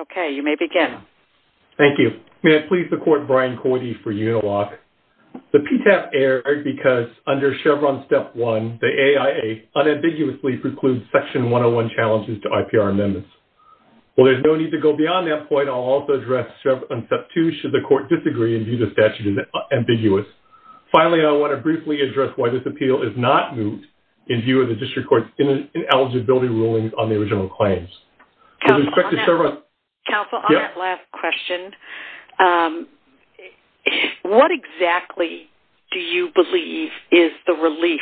Okay, you may begin. Thank you. May I please the court Brian Coide for Uniloc? The PTAP erred because under Chevron Step 1, the AIA unambiguously precludes Section 101 challenges to IPR amendments. Well, there's no need to go beyond that point. I'll also address Chevron Step 2 should the court disagree and view the statute as ambiguous. Finally, I want to briefly address why this appeal is not moved in view of the district court's ineligibility rulings on the original claims. Counsel, on that last question, what exactly do you believe is the relief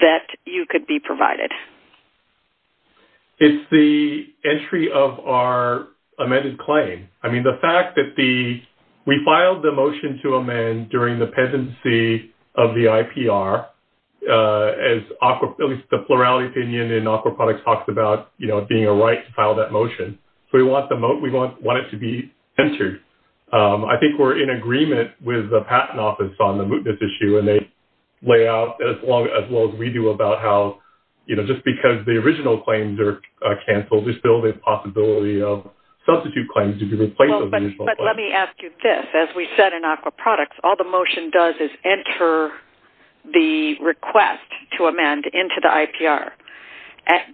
that you could be provided? It's the entry of our amended claim. I mean, the fact that we filed the motion to amend during the motion, we want it to be entered. I think we're in agreement with the Patent Office on the mootness issue and they lay out as well as we do about how, you know, just because the original claims are canceled, there's still the possibility of substitute claims to be replaced. Well, but let me ask you this. As we said in aqua products, all the motion does is enter the request to amend into the IPR,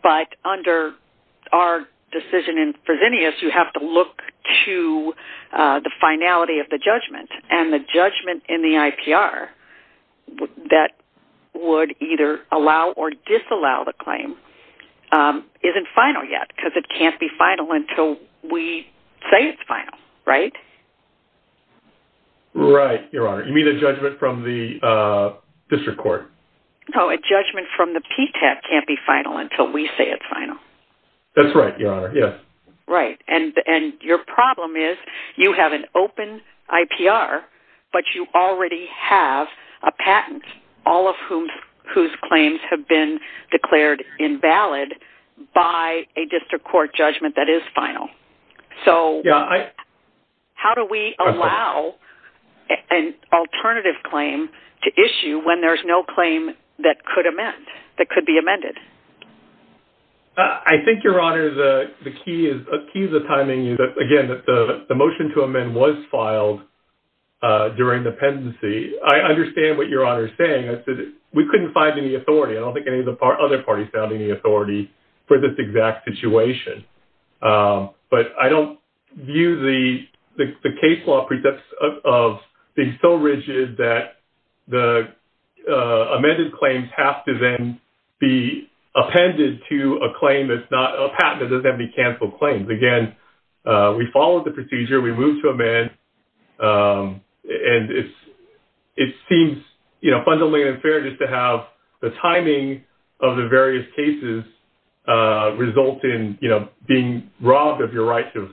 but under our decision in Fresenius, you have to look to the finality of the judgment and the judgment in the IPR that would either allow or disallow the claim isn't final yet because it can't be final until we say it's final, right? Right. Your Honor, you mean the judgment from the district court? No, a judgment from the PTAC can't be final until we say it's final. That's right, Your Honor. Yes. Right. And your problem is you have an open IPR, but you already have a patent, all of whose claims have been declared invalid by a district court judgment that is final. So how do we allow an alternative claim to issue when there's no claim that could amend, that could be amended? I think, Your Honor, the key is the timing. Again, the motion to amend was filed during the pendency. I understand what Your Honor is saying. We couldn't find any authority. I don't think any of the other parties found any authority for this exact situation. But I don't view the case law precepts of being so rigid that the amended claims have to then be appended to a patent that doesn't have to be canceled claims. Again, we followed the procedure. We moved to amend. And it seems fundamentally unfair just to have the timing of the various cases result in being robbed of your right to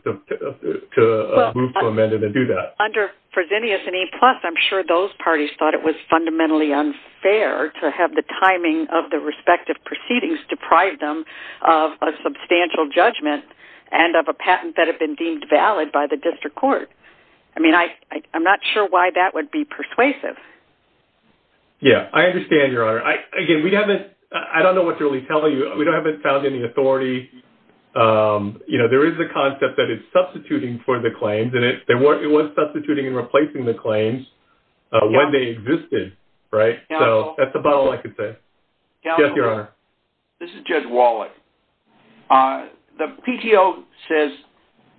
move to amend and do that. Under Fresenius and E+, I'm sure those parties thought it was fundamentally unfair to have the timing of the respective proceedings deprive them of a substantial judgment and of a patent that had been deemed valid by the district court. I mean, I'm not sure why that would be persuasive. Yeah, I understand, Your Honor. Again, we haven't... I don't know what to really tell you. We haven't found any authority. There is the concept that it's substituting for the claims, and it was substituting and replacing the claims when they existed, right? So, that's about all I could say. Yes, Your Honor. This is Judge Wallach. The PTO says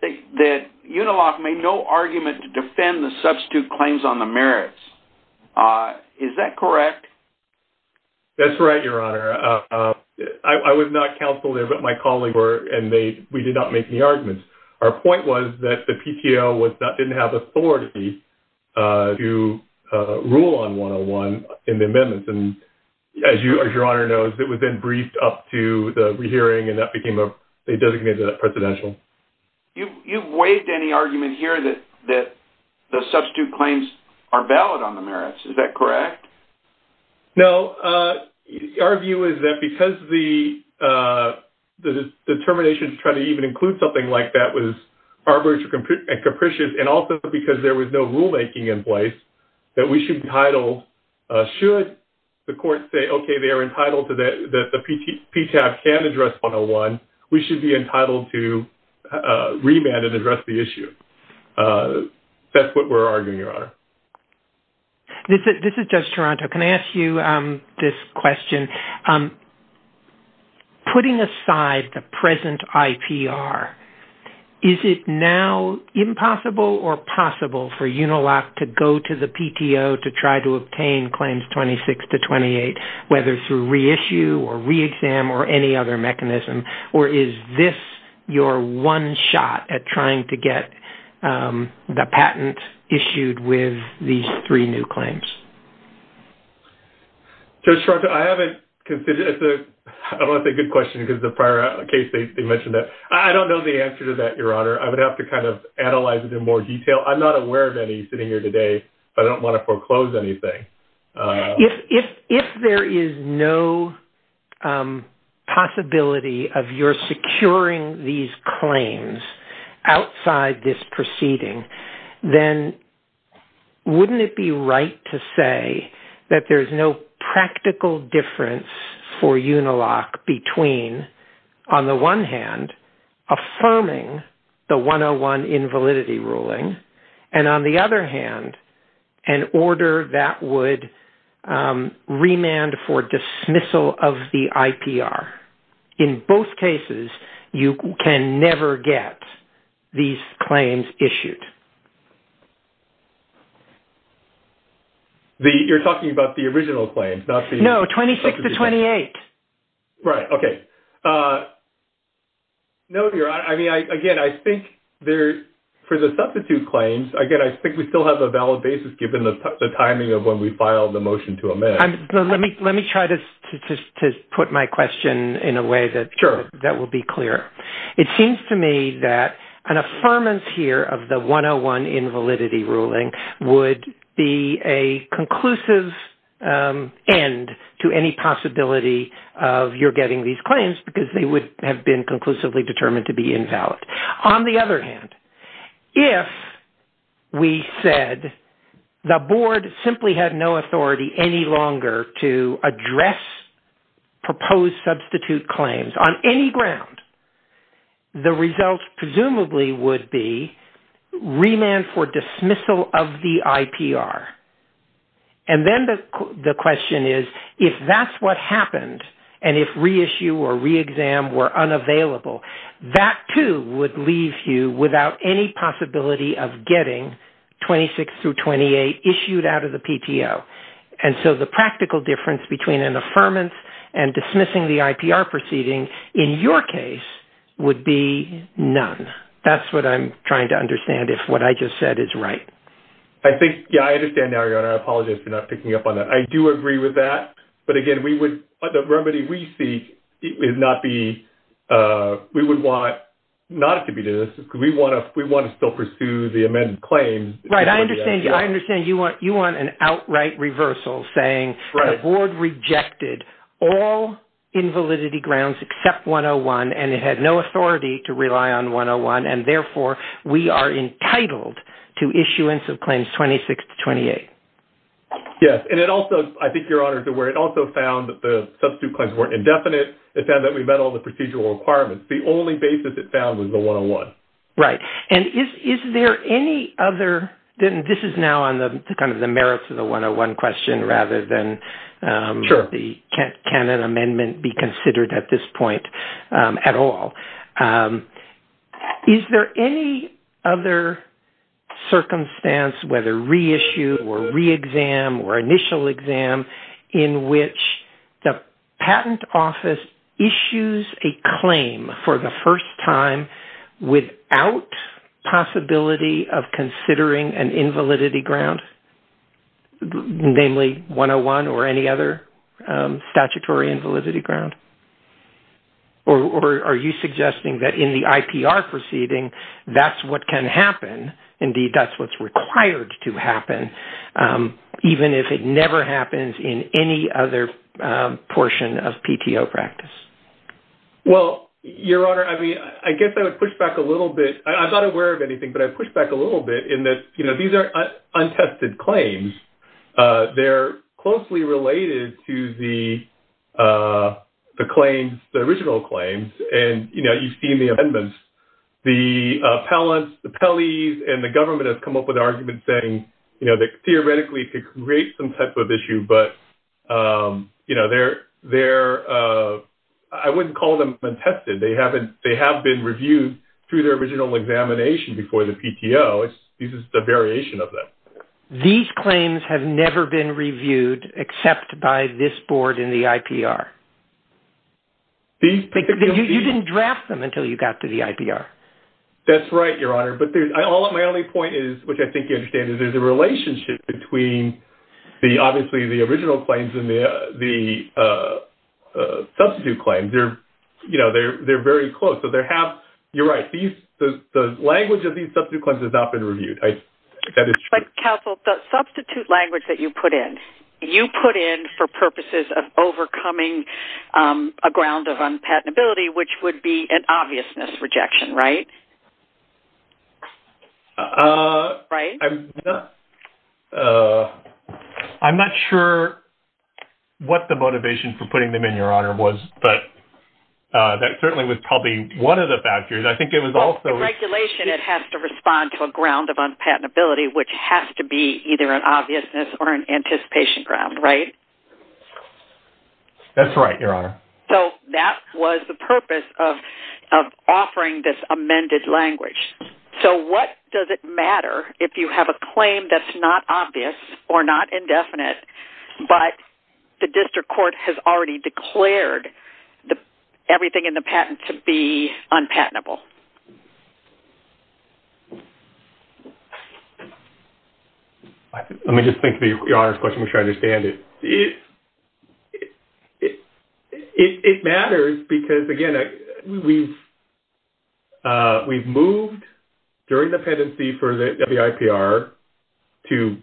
that Unilock made no argument to defend the PTO. Is that correct? That's right, Your Honor. I was not counsel there, but my colleagues were, and we did not make any arguments. Our point was that the PTO didn't have authority to rule on 101 in the amendments. And as Your Honor knows, it was then briefed up to the re-hearing, and that became a designated presidential. You've waived any argument here that the substitute claims are valid on the merits. Is that correct? No. Our view is that because the termination to try to even include something like that was arbitrary and capricious, and also because there was no rulemaking in place, that we should be entitled, should the court say, okay, that the PTO can address 101, we should be entitled to remand and address the issue. That's what we're arguing, Your Honor. This is Judge Toronto. Can I ask you this question? Putting aside the present IPR, is it now impossible or possible for Unilock to go to PTO to try to obtain claims 26 to 28, whether through reissue or re-exam or any other mechanism, or is this your one shot at trying to get the patent issued with these three new claims? Judge Toronto, I haven't considered it. I don't want to say good question because the prior case, they mentioned that. I don't know the answer to that, Your Honor. I would have to analyze it in more detail. I'm not aware of any sitting here today, but I don't want to foreclose anything. If there is no possibility of your securing these claims outside this proceeding, then wouldn't it be right to say that there's no invalidity ruling, and on the other hand, an order that would remand for dismissal of the IPR? In both cases, you can never get these claims issued. You're talking about the original claims, not the... No, 26 to 28. Right. Okay. No, Your Honor. I mean, again, I think for the substitute claims, again, I think we still have a valid basis given the timing of when we filed the motion to amend. Let me try to put my question in a way that will be clear. It seems to me that an of your getting these claims because they would have been conclusively determined to be invalid. On the other hand, if we said the board simply had no authority any longer to address proposed substitute claims on any ground, the results presumably would be remand for dismissal of the IPR. And then the question is, if that's what happened, and if reissue or re-exam were unavailable, that too would leave you without any possibility of getting 26 through 28 issued out of the PTO. And so the practical difference between an affirmance and dismissing the IPR proceeding in your case would be none. That's what I'm trying to understand, if what I just said is right. I think, yeah, I understand now, Your Honor. I apologize for not picking up on that. I do agree with that. But again, we would, the remedy we seek is not the, we would want not to be doing this because we want to still pursue the amended claims. Right. I understand. I understand you want an outright reversal saying the board rejected all invalidity grounds except 101, and it had no authority to rely on 101. And therefore, we are entitled to issuance of claims 26 to 28. Yes. And it also, I think Your Honor is aware, it also found that the substitute claims weren't indefinite. It found that we met all the procedural requirements. The only basis it found was the 101. Right. And is there any other, this is now on the kind of the merits of the 101 question rather than the, can an amendment be considered at this point at all? Is there any other circumstance, whether reissue or re-exam or initial exam, in which the patent office issues a claim for the first time without possibility of considering an invalidity ground, namely 101 or any other statutory invalidity ground? Or are you suggesting that in the IPR proceeding, that's what can happen? Indeed, that's what's required to happen, even if it never happens in any other portion of PTO practice? Well, Your Honor, I mean, I guess I would push back a little bit. I'm not aware of anything, but I push back a little bit in that, you know, these are untested claims. They're closely related to the claims, the original claims. And, you know, you've seen the amendments, the appellants, the PELIs, and the government has come up with arguments saying, you know, that theoretically could create some type of issue, but, you know, they're, I wouldn't call them untested. They have been reviewed through their original examination before the PTO. This is a variation of that. These claims have never been reviewed except by this board in the IPR? You didn't draft them until you got to the IPR? That's right, Your Honor. But my only point is, which I think you understand, is there's a relationship between, obviously, the original claims and the substitute claims. They're, you know, they're very close. So, they have, you're right, the language of these substitute claims has not been reviewed. But, counsel, the substitute language that you put in, you put in for purposes of overcoming a ground of unpatentability, which would be an obviousness rejection, right? Right? I'm not, I'm not sure what the motivation for putting them in, Your Honor, was, but that certainly was probably one of the factors. I think it was also- In regulation, it has to respond to a ground of unpatentability, which has to be either an obviousness or an anticipation ground, right? That's right, Your Honor. So, that was the purpose of offering this amended language. So, what does it matter if you have a claim that's not obvious or not indefinite, but the district court has already declared everything in the patent to be unpatentable? Let me just think through Your Honor's question to make sure I understand it. It matters because, again, we've moved during the pendency for the IPR to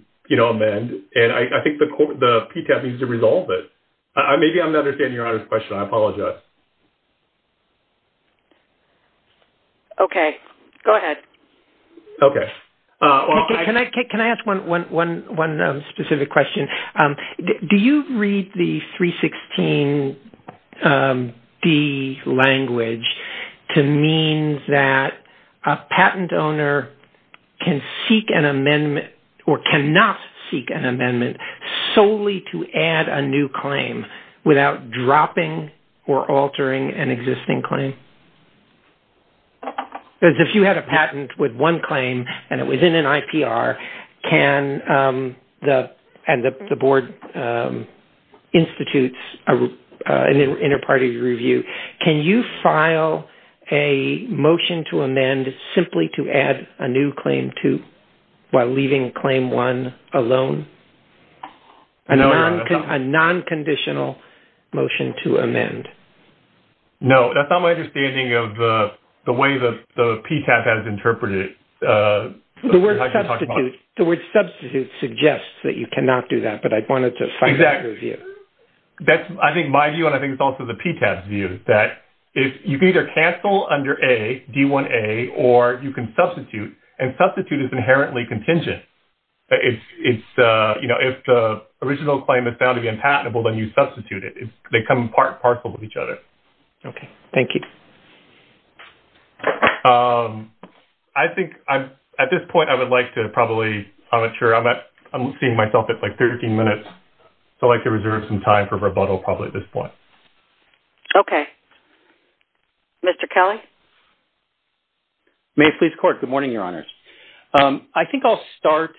amend, and I think the PTAP needs to resolve it. Maybe I'm not understanding Your Honor's question. I apologize. Okay. Go ahead. Okay. Can I ask one specific question? Do you read the 316D language to mean that a patent owner can seek an amendment or cannot seek an amendment solely to add a new claim without dropping or within an IPR, and the board institutes an inter-party review? Can you file a motion to amend simply to add a new claim while leaving claim one alone? A non-conditional motion to amend? No. That's not my understanding of the way the PTAP has interpreted it. The word substitute suggests that you cannot do that, but I wanted to find out your view. That's, I think, my view, and I think it's also the PTAP's view, that you can either cancel under A, D1A, or you can substitute, and substitute is inherently contingent. If the original claim is to be unpatentable, then you substitute it. They come part and parcel with each other. Okay. Thank you. I think at this point, I would like to probably, I'm not sure, I'm seeing myself at 13 minutes, so I'd like to reserve some time for rebuttal probably at this point. Okay. Mr. Kelly? May it please the Court. Good morning, Your Honors. I think I'll start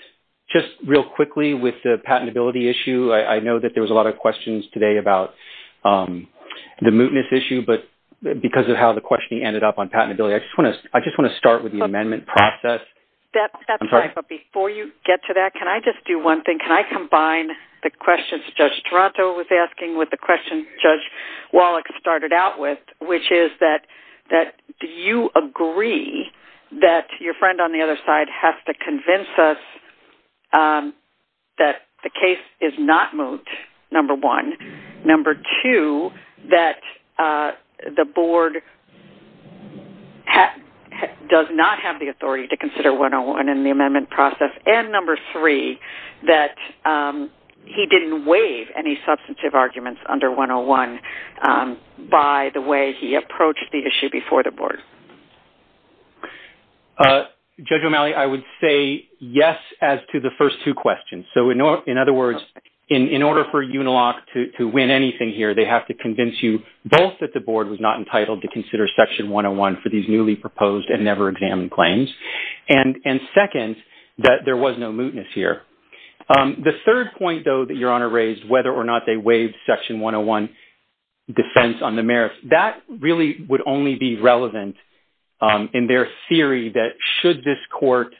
just real quickly with the patentability issue. I know that there was a lot of questions today about the mootness issue, but because of how the questioning ended up on patentability, I just want to start with the amendment process. I'm sorry? Before you get to that, can I just do one thing? Can I combine the questions Judge Toronto was asking with the questions Judge Wallach started out with, which is that do you agree that your that the case is not moot, number one? Number two, that the Board does not have the authority to consider 101 in the amendment process? And number three, that he didn't waive any substantive arguments under 101 by the way he approached the issue before the Board? Judge O'Malley, I would say yes as to the first two questions. So, in other words, in order for Uniloc to win anything here, they have to convince you both that the Board was not entitled to consider Section 101 for these newly proposed and never examined claims, and second, that there was no mootness here. The third point, though, that Your Honor raised, whether or not they waived Section 101 defense on the merits, that really would only be relevant in their theory that should this Court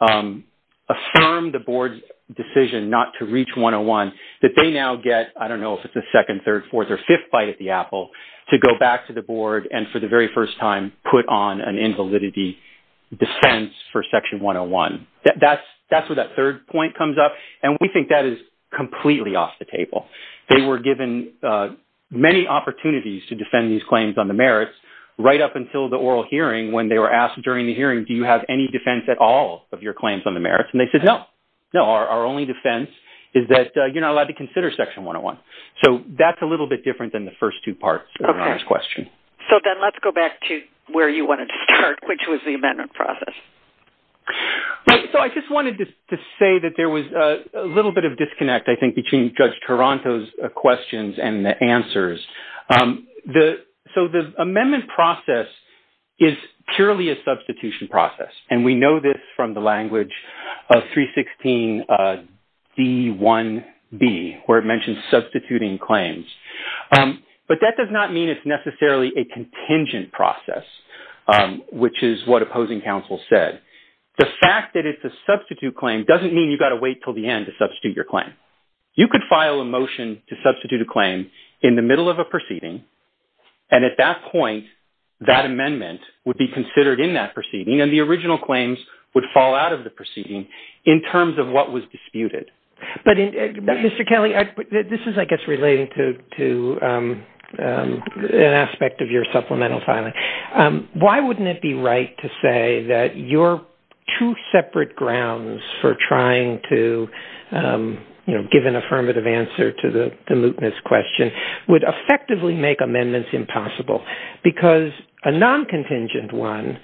affirm the Board's decision not to reach 101, that they now get, I don't know if it's a second, third, fourth, or fifth bite at the apple, to go back to the Board and for the very first time put on an invalidity defense for Section 101. That's where that third point comes up, and we think that is completely off the table. They were given many opportunities to defend these claims on the merits right up until the oral hearing when they were asked during the hearing, do you have any defense at all of your claims on the merits? And they said, no. No, our only defense is that you're not allowed to consider Section 101. So, that's a little bit different than the first two parts of Your Honor's question. So, then let's go back to where you wanted to start, which was the amendment process. So, I just wanted to say that there was a little bit of disconnect, I think, between Judge Taranto's questions and the answers. So, the amendment process is purely a substitution process, and we know this from the language of 316 D1B, where it mentions substituting claims. But that does not mean it's necessarily a contingent process, which is what opposing counsel said. The fact that it's a substitute claim doesn't mean you've got to wait till the end to substitute your claim. You could file a motion to substitute a claim in the middle of a proceeding. And at that point, that amendment would be considered in that proceeding, and the original claims would fall out of the proceeding in terms of what was disputed. But Mr. Kelley, this is, I guess, relating to an aspect of your supplemental filing. Why wouldn't it be right to say that your two separate grounds for trying to, you know, give an affirmative answer to the mootness question would effectively make amendments impossible? Because a non-contingent one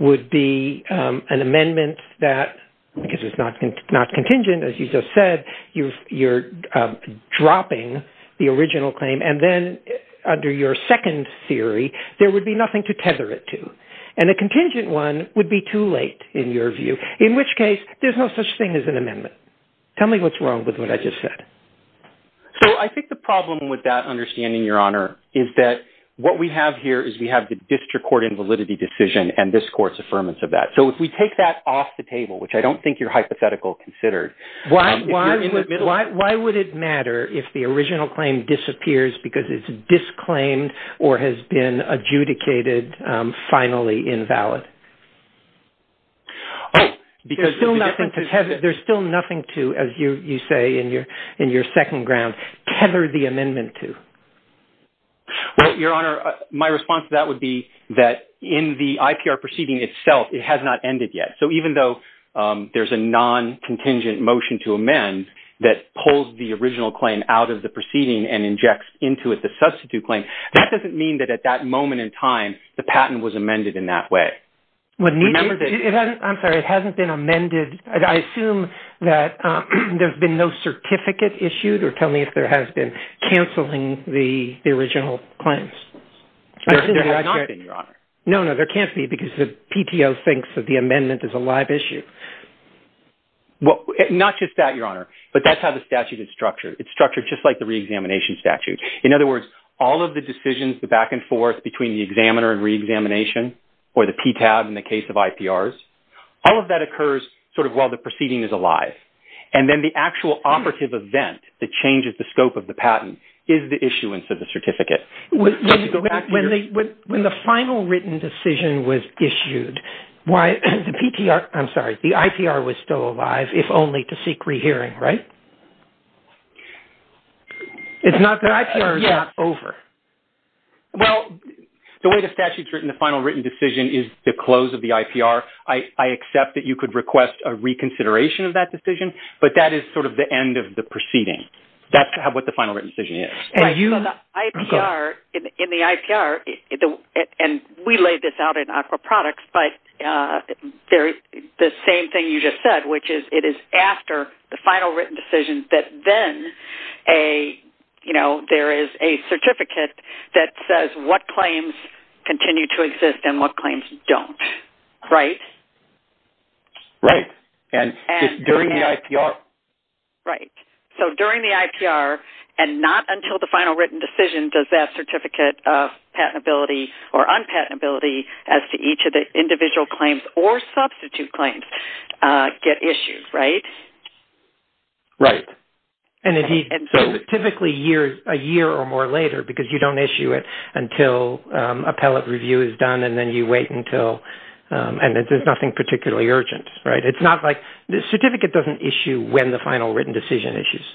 would be an amendment that, because it's not contingent, as you just said, you're dropping the original claim. And then under your second theory, there would be nothing to tether it to. And a contingent one would be too late, in your view, in which case, there's no such thing as an amendment. Tell me what's wrong with what I just said. So I think the problem with that understanding, Your Honor, is that what we have here is we have the district court invalidity decision and this court's affirmance of that. So if we take that off the table, which I don't think you're hypothetical considered... Why would it matter if the original claim disappears because it's disclaimed or has been adjudicated finally invalid? There's still nothing to, as you say in your second ground, tether the amendment to. Well, Your Honor, my response to that would be that in the IPR proceeding itself, it has not ended yet. So even though there's a non-contingent motion to amend that pulls the original claim out of the proceeding and injects into it the substitute claim, that doesn't mean that at that moment in time, the patent was amended in that way. I'm sorry, it hasn't been amended. I assume that there's been no certificate issued or tell me if there has been canceling the original claims. There has not been, Your Honor. No, no, there can't be because the PTO thinks that the amendment is a live issue. Well, not just that, Your Honor, but that's how the statute is structured. It's structured just like the re-examination statute. In other words, all of the decisions, the back and forth between the examiner and re-examination or the PTAB in the case of IPRs, all of that occurs sort of while the proceeding is alive. And then the actual operative event that changes the scope of the patent is the issuance of the certificate. When the final written decision was issued, why the PTR, I'm sorry, the IPR was still alive if only to seek rehearing, right? It's not that IPR is not over. Well, the way the statute's written, the final written decision is the close of the IPR. I accept that you could request a reconsideration of that decision, but that is sort of the end of the proceeding. That's what the final written decision is. IPR, in the IPR, and we laid this out in AQA products, but the same thing you just said, which is it is after the final written decision that then a, you know, there is a certificate that says what claims continue to exist and what claims don't, right? Right. And during the IPR. Right. So during the IPR and not until the final written decision does that certificate of patentability or unpatentability as to each of the individual claims or substitute claims get issued, right? Right. And so typically a year or more later, because you don't issue it until appellate review is done and then you wait until, and there's nothing particularly urgent, right? It's not like, the certificate doesn't issue when the final written decision issues.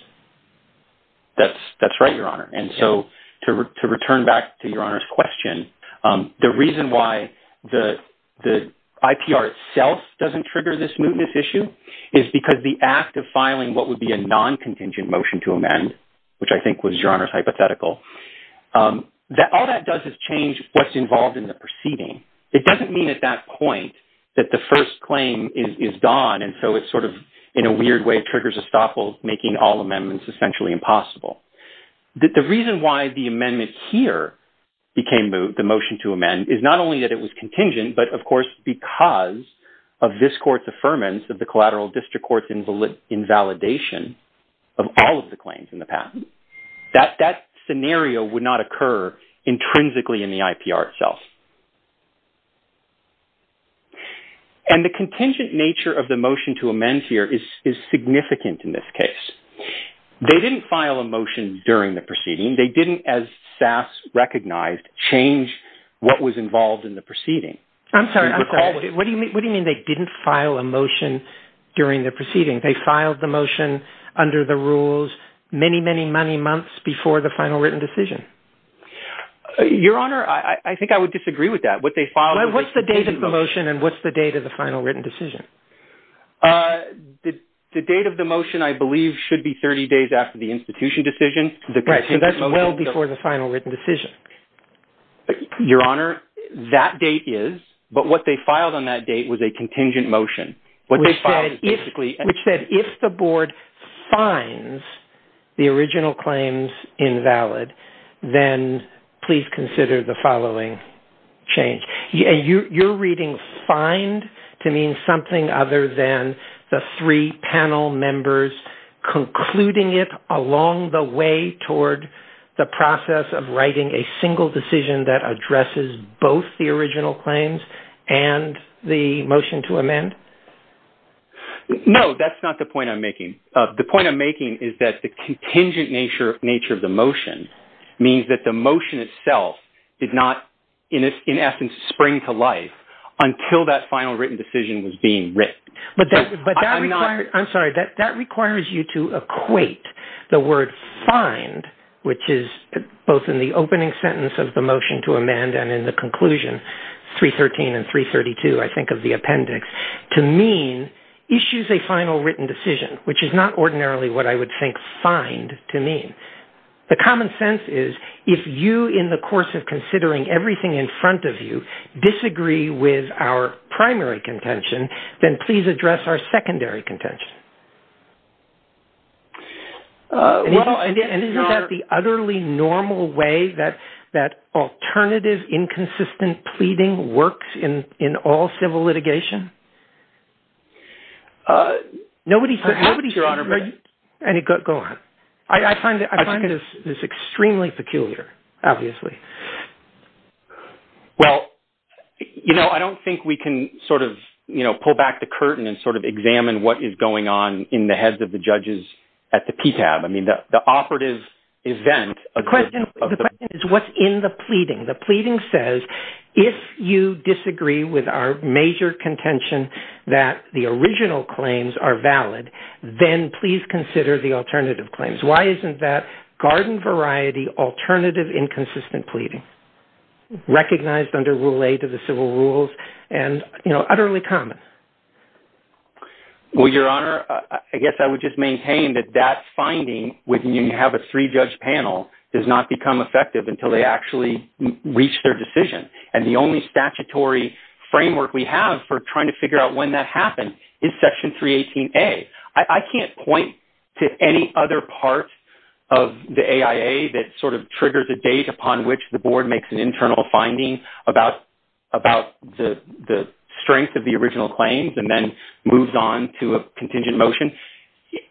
That's right, Your Honor. And so to return back to Your Honor's question, the reason why the IPR itself doesn't trigger this mootness issue is because the act of filing what would be a non-contingent motion to amend, which I think was Your Honor's hypothetical, all that does is change what's involved in the proceeding. It doesn't mean at that point that the first claim is gone. And so it's sort of in a weird way, triggers a stopple making all amendments essentially impossible. The reason why the amendment here became the motion to amend is not only that it was contingent, but of course, because of this court's affirmance of the collateral district court's invalidation of all of the claims in the past. That scenario would not occur intrinsically in the IPR itself. And the contingent nature of the motion to amend here is significant in this case. They didn't file a motion during the proceeding. They didn't, as SAS recognized, change what was involved in the proceeding. I'm sorry, I'm sorry. What do you mean they didn't file a motion during the proceeding? They filed the motion under the rules many, many, many months before the final written decision. Your Honor, I think I would disagree with that. What they filed- And what's the date of the final written decision? The date of the motion, I believe, should be 30 days after the institution decision. Right, so that's well before the final written decision. Your Honor, that date is, but what they filed on that date was a contingent motion. Which said, if the board finds the original claims invalid, then please consider the following change. You're reading find to mean something other than the three panel members concluding it along the way toward the process of writing a single decision that addresses both the original claims and the motion to amend? No, that's not the point I'm making. The point I'm making is that the contingent nature of the motion means that the motion itself did not, in essence, spring to life until that final written decision was being written. I'm sorry, that requires you to equate the word find, which is both in the opening sentence of the motion to amend and in the conclusion, 313 and 332, I think of the appendix, to mean issues a final written decision, which is not ordinarily what I would think find to mean. The common sense is, if you, in the course of considering everything in front of you, disagree with our primary contention, then please address our secondary contention. And isn't that the utterly normal way that alternative inconsistent pleading works in all civil litigation? Go on. I find this extremely peculiar, obviously. Well, you know, I don't think we can sort of, you know, pull back the curtain and sort of examine what is going on in the heads of the judges at the PTAB. I mean, the operative event... The question is, what's in the pleading? The pleading says, if you disagree with our major contention that the original claims are valid, then please consider the alternative claims. Why isn't that garden variety alternative inconsistent pleading recognized under Rule 8 of the Civil Rules and, you know, utterly common? Well, Your Honor, I guess I would just maintain that that finding, when you have a three-judge panel, does not become effective until they actually reach their decision. And the only statutory framework we have for trying to figure out when that happened is Section 318A. I can't point to any other part of the AIA that sort of triggers a date upon which the board makes an internal finding about the strength of the original claims and then moves on to a contingent motion.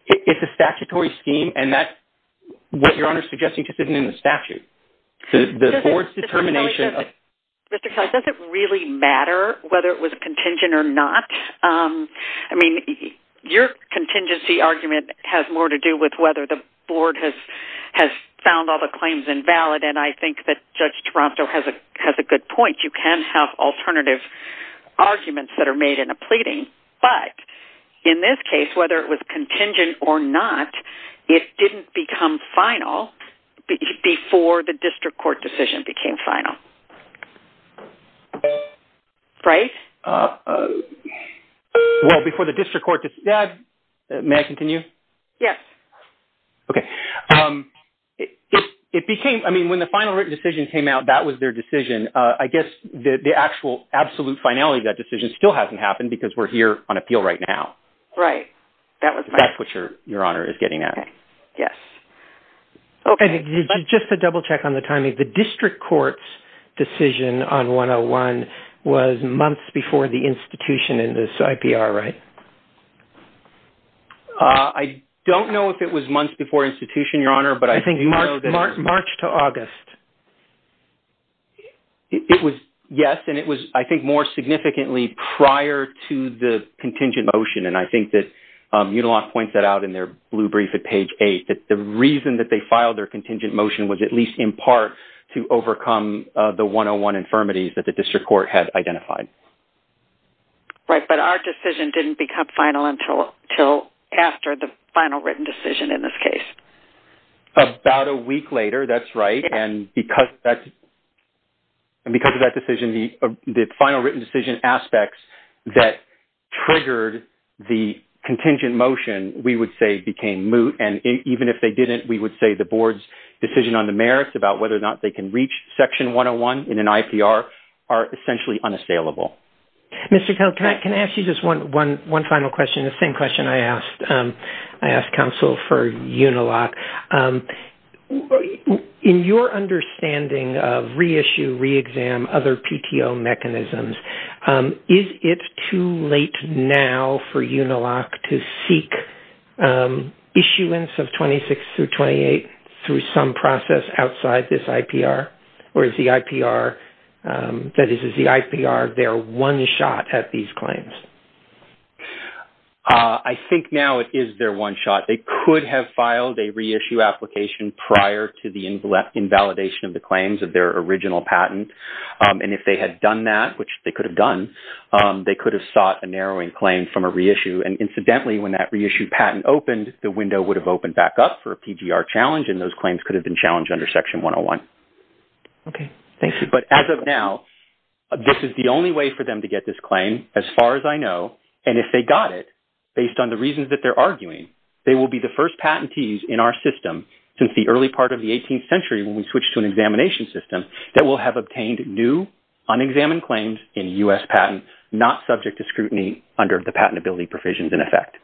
It's a statutory scheme, and that's what Your Honor's suggesting just isn't in the statute. The board's determination... Mr. Kelly, does it really matter whether it was a contingent or not? I mean, your contingency argument has more to do with whether the board has found all the claims invalid, and I think that Judge Taranto has a good point. You can have alternative arguments that are made in a pleading, but in this case, whether it was contingent or not, it didn't become final before the district court decision became final. Right? Well, before the district court... May I continue? Yes. Okay. It became... I mean, when the final written decision came out, that was their decision. I guess the actual absolute finality of that decision still hasn't happened because we're here on appeal right now. That's what Your Honor is getting at. Yes. Okay. Just to double check on the timing, the district court's decision on 101 was months before the institution in this IPR, right? I don't know if it was months before institution, Your Honor, but I think... March to August. It was, yes, and it was, I think, more significantly prior to the contingent motion, and I think that Unilof points that out in their blue brief at page eight, that the reason that they filed their contingent motion was at least in part to overcome the 101 infirmities that the district court had identified. Right, but our decision didn't become final until after the final written decision in this case. About a week later, that's right, and because of that decision, the final written decision aspects that triggered the contingent motion, we would say, became moot, and even if they didn't, we would say the board's decision on the merits about whether or not they can reach section 101 in an IPR are essentially unassailable. Mr. Kell, can I ask you just one final question, the same question I asked? Counsel for Unilof, in your understanding of reissue, re-exam, other PTO mechanisms, is it too late now for Unilof to seek issuance of 26 through 28 through some process outside this IPR, or is the IPR, that is, is the IPR their one shot at these claims? I think now it is their one shot. They could have filed a reissue application prior to the invalidation of the claims of their original patent, and if they had done that, which they could have done, they could have sought a narrowing claim from a reissue, and incidentally, when that reissue patent opened, the window would have opened back up for a PGR challenge, and those claims could have been challenged under section 101. Okay, thank you. But as of now, this is the only way for them to get this claim. As far as I know, and if they got it, based on the reasons that they're arguing, they will be the first patentees in our system, since the early part of the 18th century, when we switch to an examination system, that will have obtained new, unexamined claims in U.S. patents, not subject to scrutiny under the patentability provisions in effect.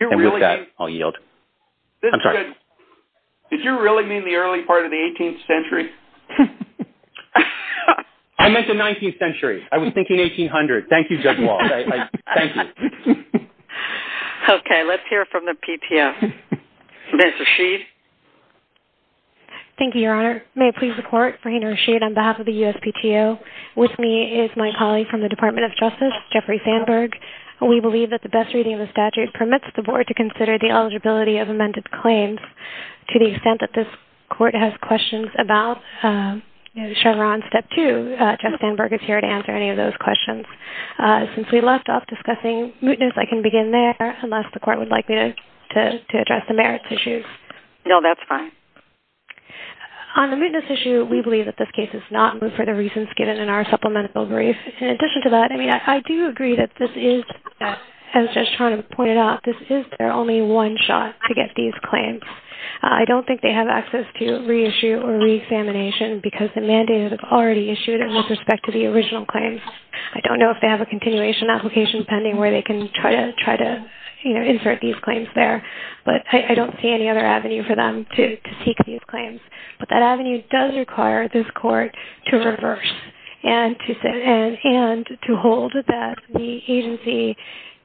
And with that, I'll yield. Did you really mean the early part of the 18th century? I meant the 19th century. I was thinking 1800. Thank you, Judge Walsh. Thank you. Okay, let's hear from the PTO. Ms. Rasheed? Thank you, Your Honor. May it please the Court, Frayne Rasheed, on behalf of the USPTO. With me is my colleague from the Department of Justice, Jeffrey Sandberg. We believe that the best reading of the statute permits the Board to consider the eligibility of amended claims to the extent that this Court has questions about Chevron Step 2. Jeff Sandberg is here to answer any of those questions. Since we left off discussing mootness, I can begin there, unless the Court would like me to address the merits issues. No, that's fine. On the mootness issue, we believe that this case is not moot for the reasons given in our supplemental brief. In addition to that, I mean, I do agree that this is, as Judge Trotter pointed out, this is their only one shot to get these claims. I don't think they have access to reissue or reexamination because the mandate is already issued with respect to the original claims. I don't know if they have a continuation application pending where they can try to insert these claims there, but I don't see any other avenue for them to seek these claims. But that avenue does require this Court to reverse and to hold that the agency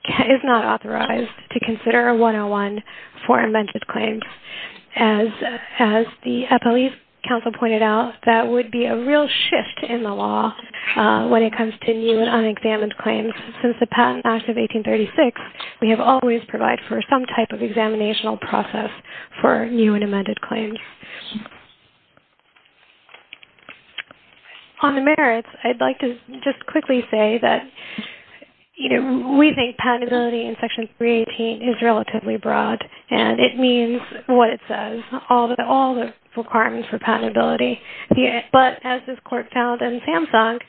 is not authorized to consider a 101 for amended claims. As the Appellee's Council pointed out, that would be a real shift in the law when it comes to new and unexamined claims. Since the Patent Act of 1836, we have always provided for some type of examinational process for new and unexamined claims. On the merits, I'd like to just quickly say that we think patentability in Section 318 is relatively broad, and it means what it says, all the requirements for patentability. But as this Court found in Samsung,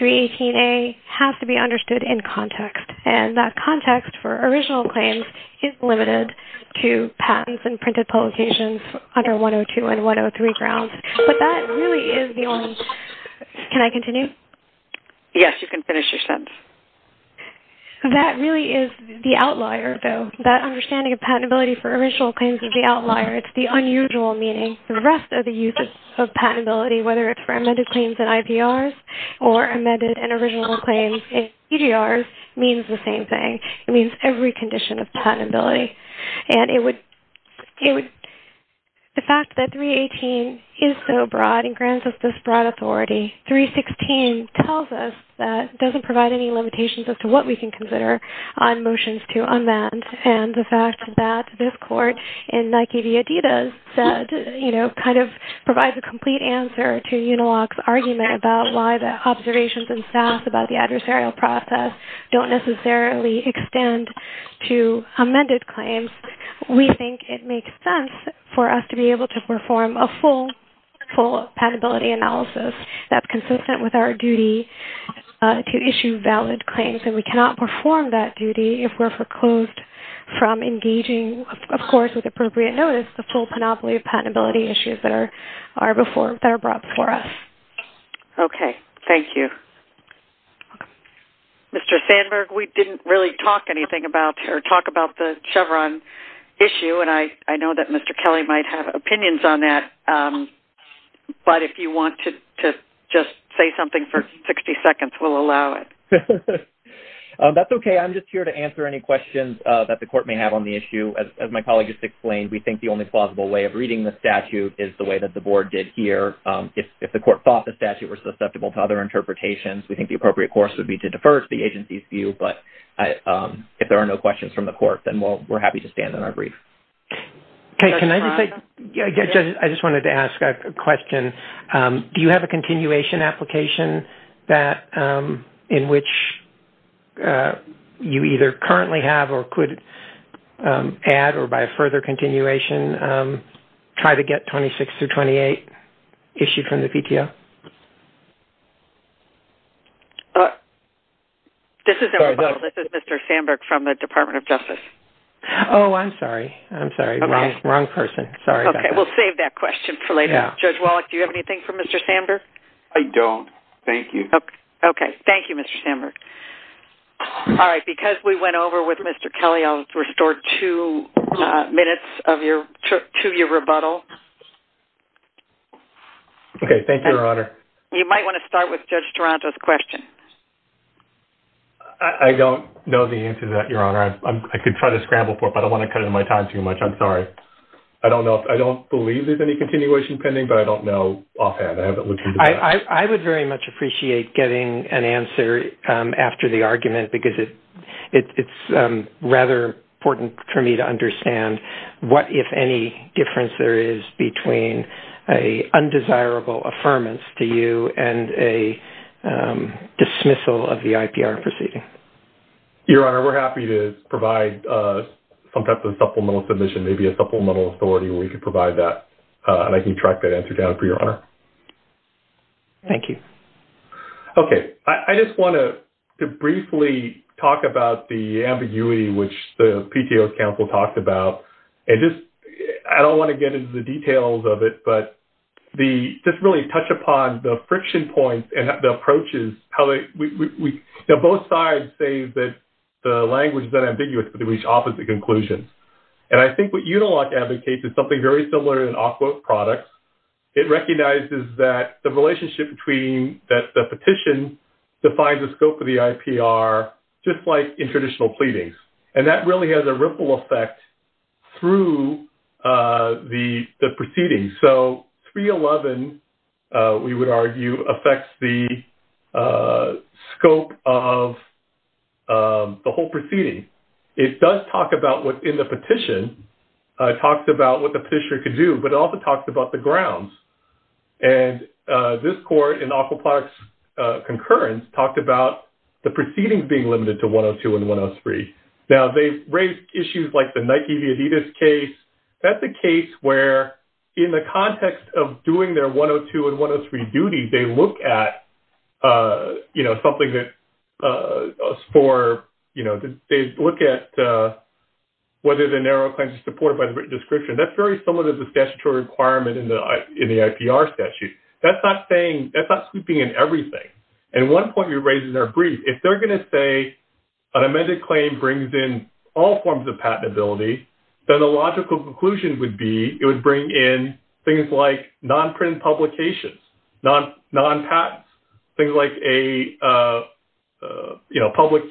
318A has to be understood in context, and that context for original claims is limited to patents and printed publications under 102 and 103 grounds. But that really is the only... Can I continue? Yes, you can finish your sentence. That really is the outlier, though. That understanding of patentability for original claims is the outlier. It's the unusual meaning. The rest of the use of patentability, whether it's for amended claims in IPRs or amended and original claims in PGRs, means the same thing. It means every condition of patentability. The fact that 318 is so broad and grants us this broad authority, 316 tells us that it doesn't provide any limitations as to what we can consider on motions to unbans, and the fact that this Court in Nike v. Adidas provides a complete answer to Uniloc's argument about why the observations in SAS about the adversarial process don't necessarily extend to amended claims, we think it makes sense for us to be able to perform a full patentability analysis that's consistent with our duty to issue valid claims. And we cannot perform that duty if we're foreclosed from engaging, of course, with appropriate notice, the full panoply of patentability issues that are brought for us. Okay. Thank you. Mr. Sandberg, we didn't really talk anything about or talk about the Chevron issue, and I know that Mr. Kelly might have opinions on that, but if you want to just say something for 60 seconds, we'll allow it. That's okay. I'm just here to answer any questions that the Court may have on the issue. As my colleague just explained, we think the only plausible way of reading the statute is the way that the Board did here. If the Court thought the statute was susceptible to other interpretations, we think the appropriate course would be to defer to the agency's view. But if there are no questions from the Court, then we're happy to stand on our brief. Okay. Can I just say, I just wanted to ask a question. Do you have a continuation application that in which you either currently have or could add or by a further continuation try to get 26 through 28 issued from the PTO? This is Mr. Sandberg from the Department of Justice. Oh, I'm sorry. I'm sorry. Wrong person. Sorry about that. Okay. We'll save that question for later. Judge Wallach, do you have anything for Mr. Sandberg? I don't. Thank you. Okay. Thank you, Mr. Sandberg. All right. Because we went over with Mr. Kelly, I'll restore two minutes to your rebuttal. Okay. Thank you, Your Honor. You might want to start with Judge Taranto's question. I don't know the answer to that, Your Honor. I could try to scramble for it, but I don't want to cut into my time too much. I'm sorry. I don't know. I don't believe there's any continuation pending, but I don't know offhand. I haven't looked into that. I would very much appreciate getting an answer after the argument because it's rather important for me to understand what, if any, difference there is between an undesirable affirmance to you and a dismissal of the IPR proceeding. Your Honor, we're happy to provide some type of supplemental submission, maybe a supplemental authority where you could provide that. I can track that answer down for you, Your Honor. Thank you. Okay. I just want to briefly talk about the ambiguity, which the PTO's counsel talked about. I don't want to get into the details of it, but just really touch upon the friction points and the approaches. Both sides say that the language is unambiguous, but they reach opposite conclusions. I think what Unilock indicates is something very similar in Ofquote products. It recognizes that the relationship between the petition defines the scope of the IPR just like in traditional pleadings. That really has a ripple effect through the proceedings. 311, we would argue, affects the scope of the whole proceeding. It does talk about what in the petition talks about what the petitioner could do, but it also talks about the grounds. This court in Ofquote products' concurrence talked about the proceedings being limited to 102 and 103. Now, they raise issues like the Nike-Viejitas case. That's a case where in the context of doing their 102 and 103 duty, they look at whether the narrow claims are supported by the written description. That's very similar to the statutory requirement in the IPR statute. That's not sweeping in everything. At one point, you're raising their brief. If they're going to say an amended claim brings in all forms of patentability, then the logical conclusion would be it would bring in things like non-printed or public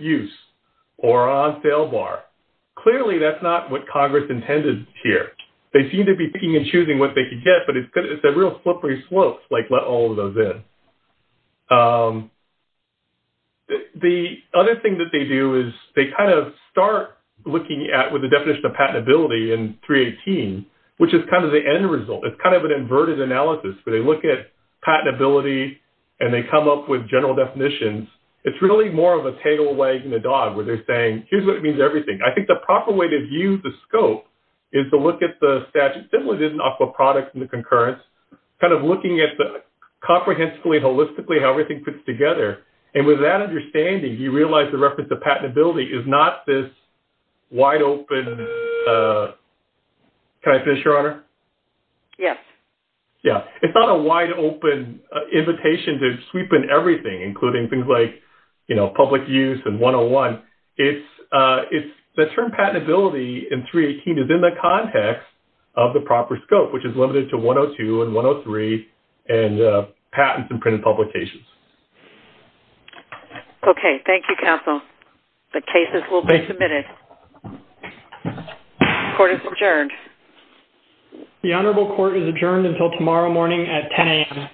use or on sale bar. Clearly, that's not what Congress intended here. They seem to be picking and choosing what they could get, but it's a real slippery slope to let all of those in. The other thing that they do is they start looking at the definition of patentability in 318, which is the end result. It's an inverted analysis where they look at patentability and they come up with general definitions. It's really more of a tail wagging the dog, where they're saying, here's what it means to everything. I think the proper way to view the scope is to look at the statute, similar to the aqua products and the concurrence, looking at the comprehensively, holistically, how everything fits together. With that understanding, you realize the reference to patentability is not this wide open... Can I finish, Your Honor? Yes. Yes. It's not a wide open invitation to sweep in everything, including things like public use and 101. The term patentability in 318 is in the context of the proper scope, which is limited to 102 and 103 and patents and printed publications. Okay. Thank you, counsel. The cases will be submitted. Court is adjourned. The honorable court is adjourned until tomorrow morning at 10 a.m.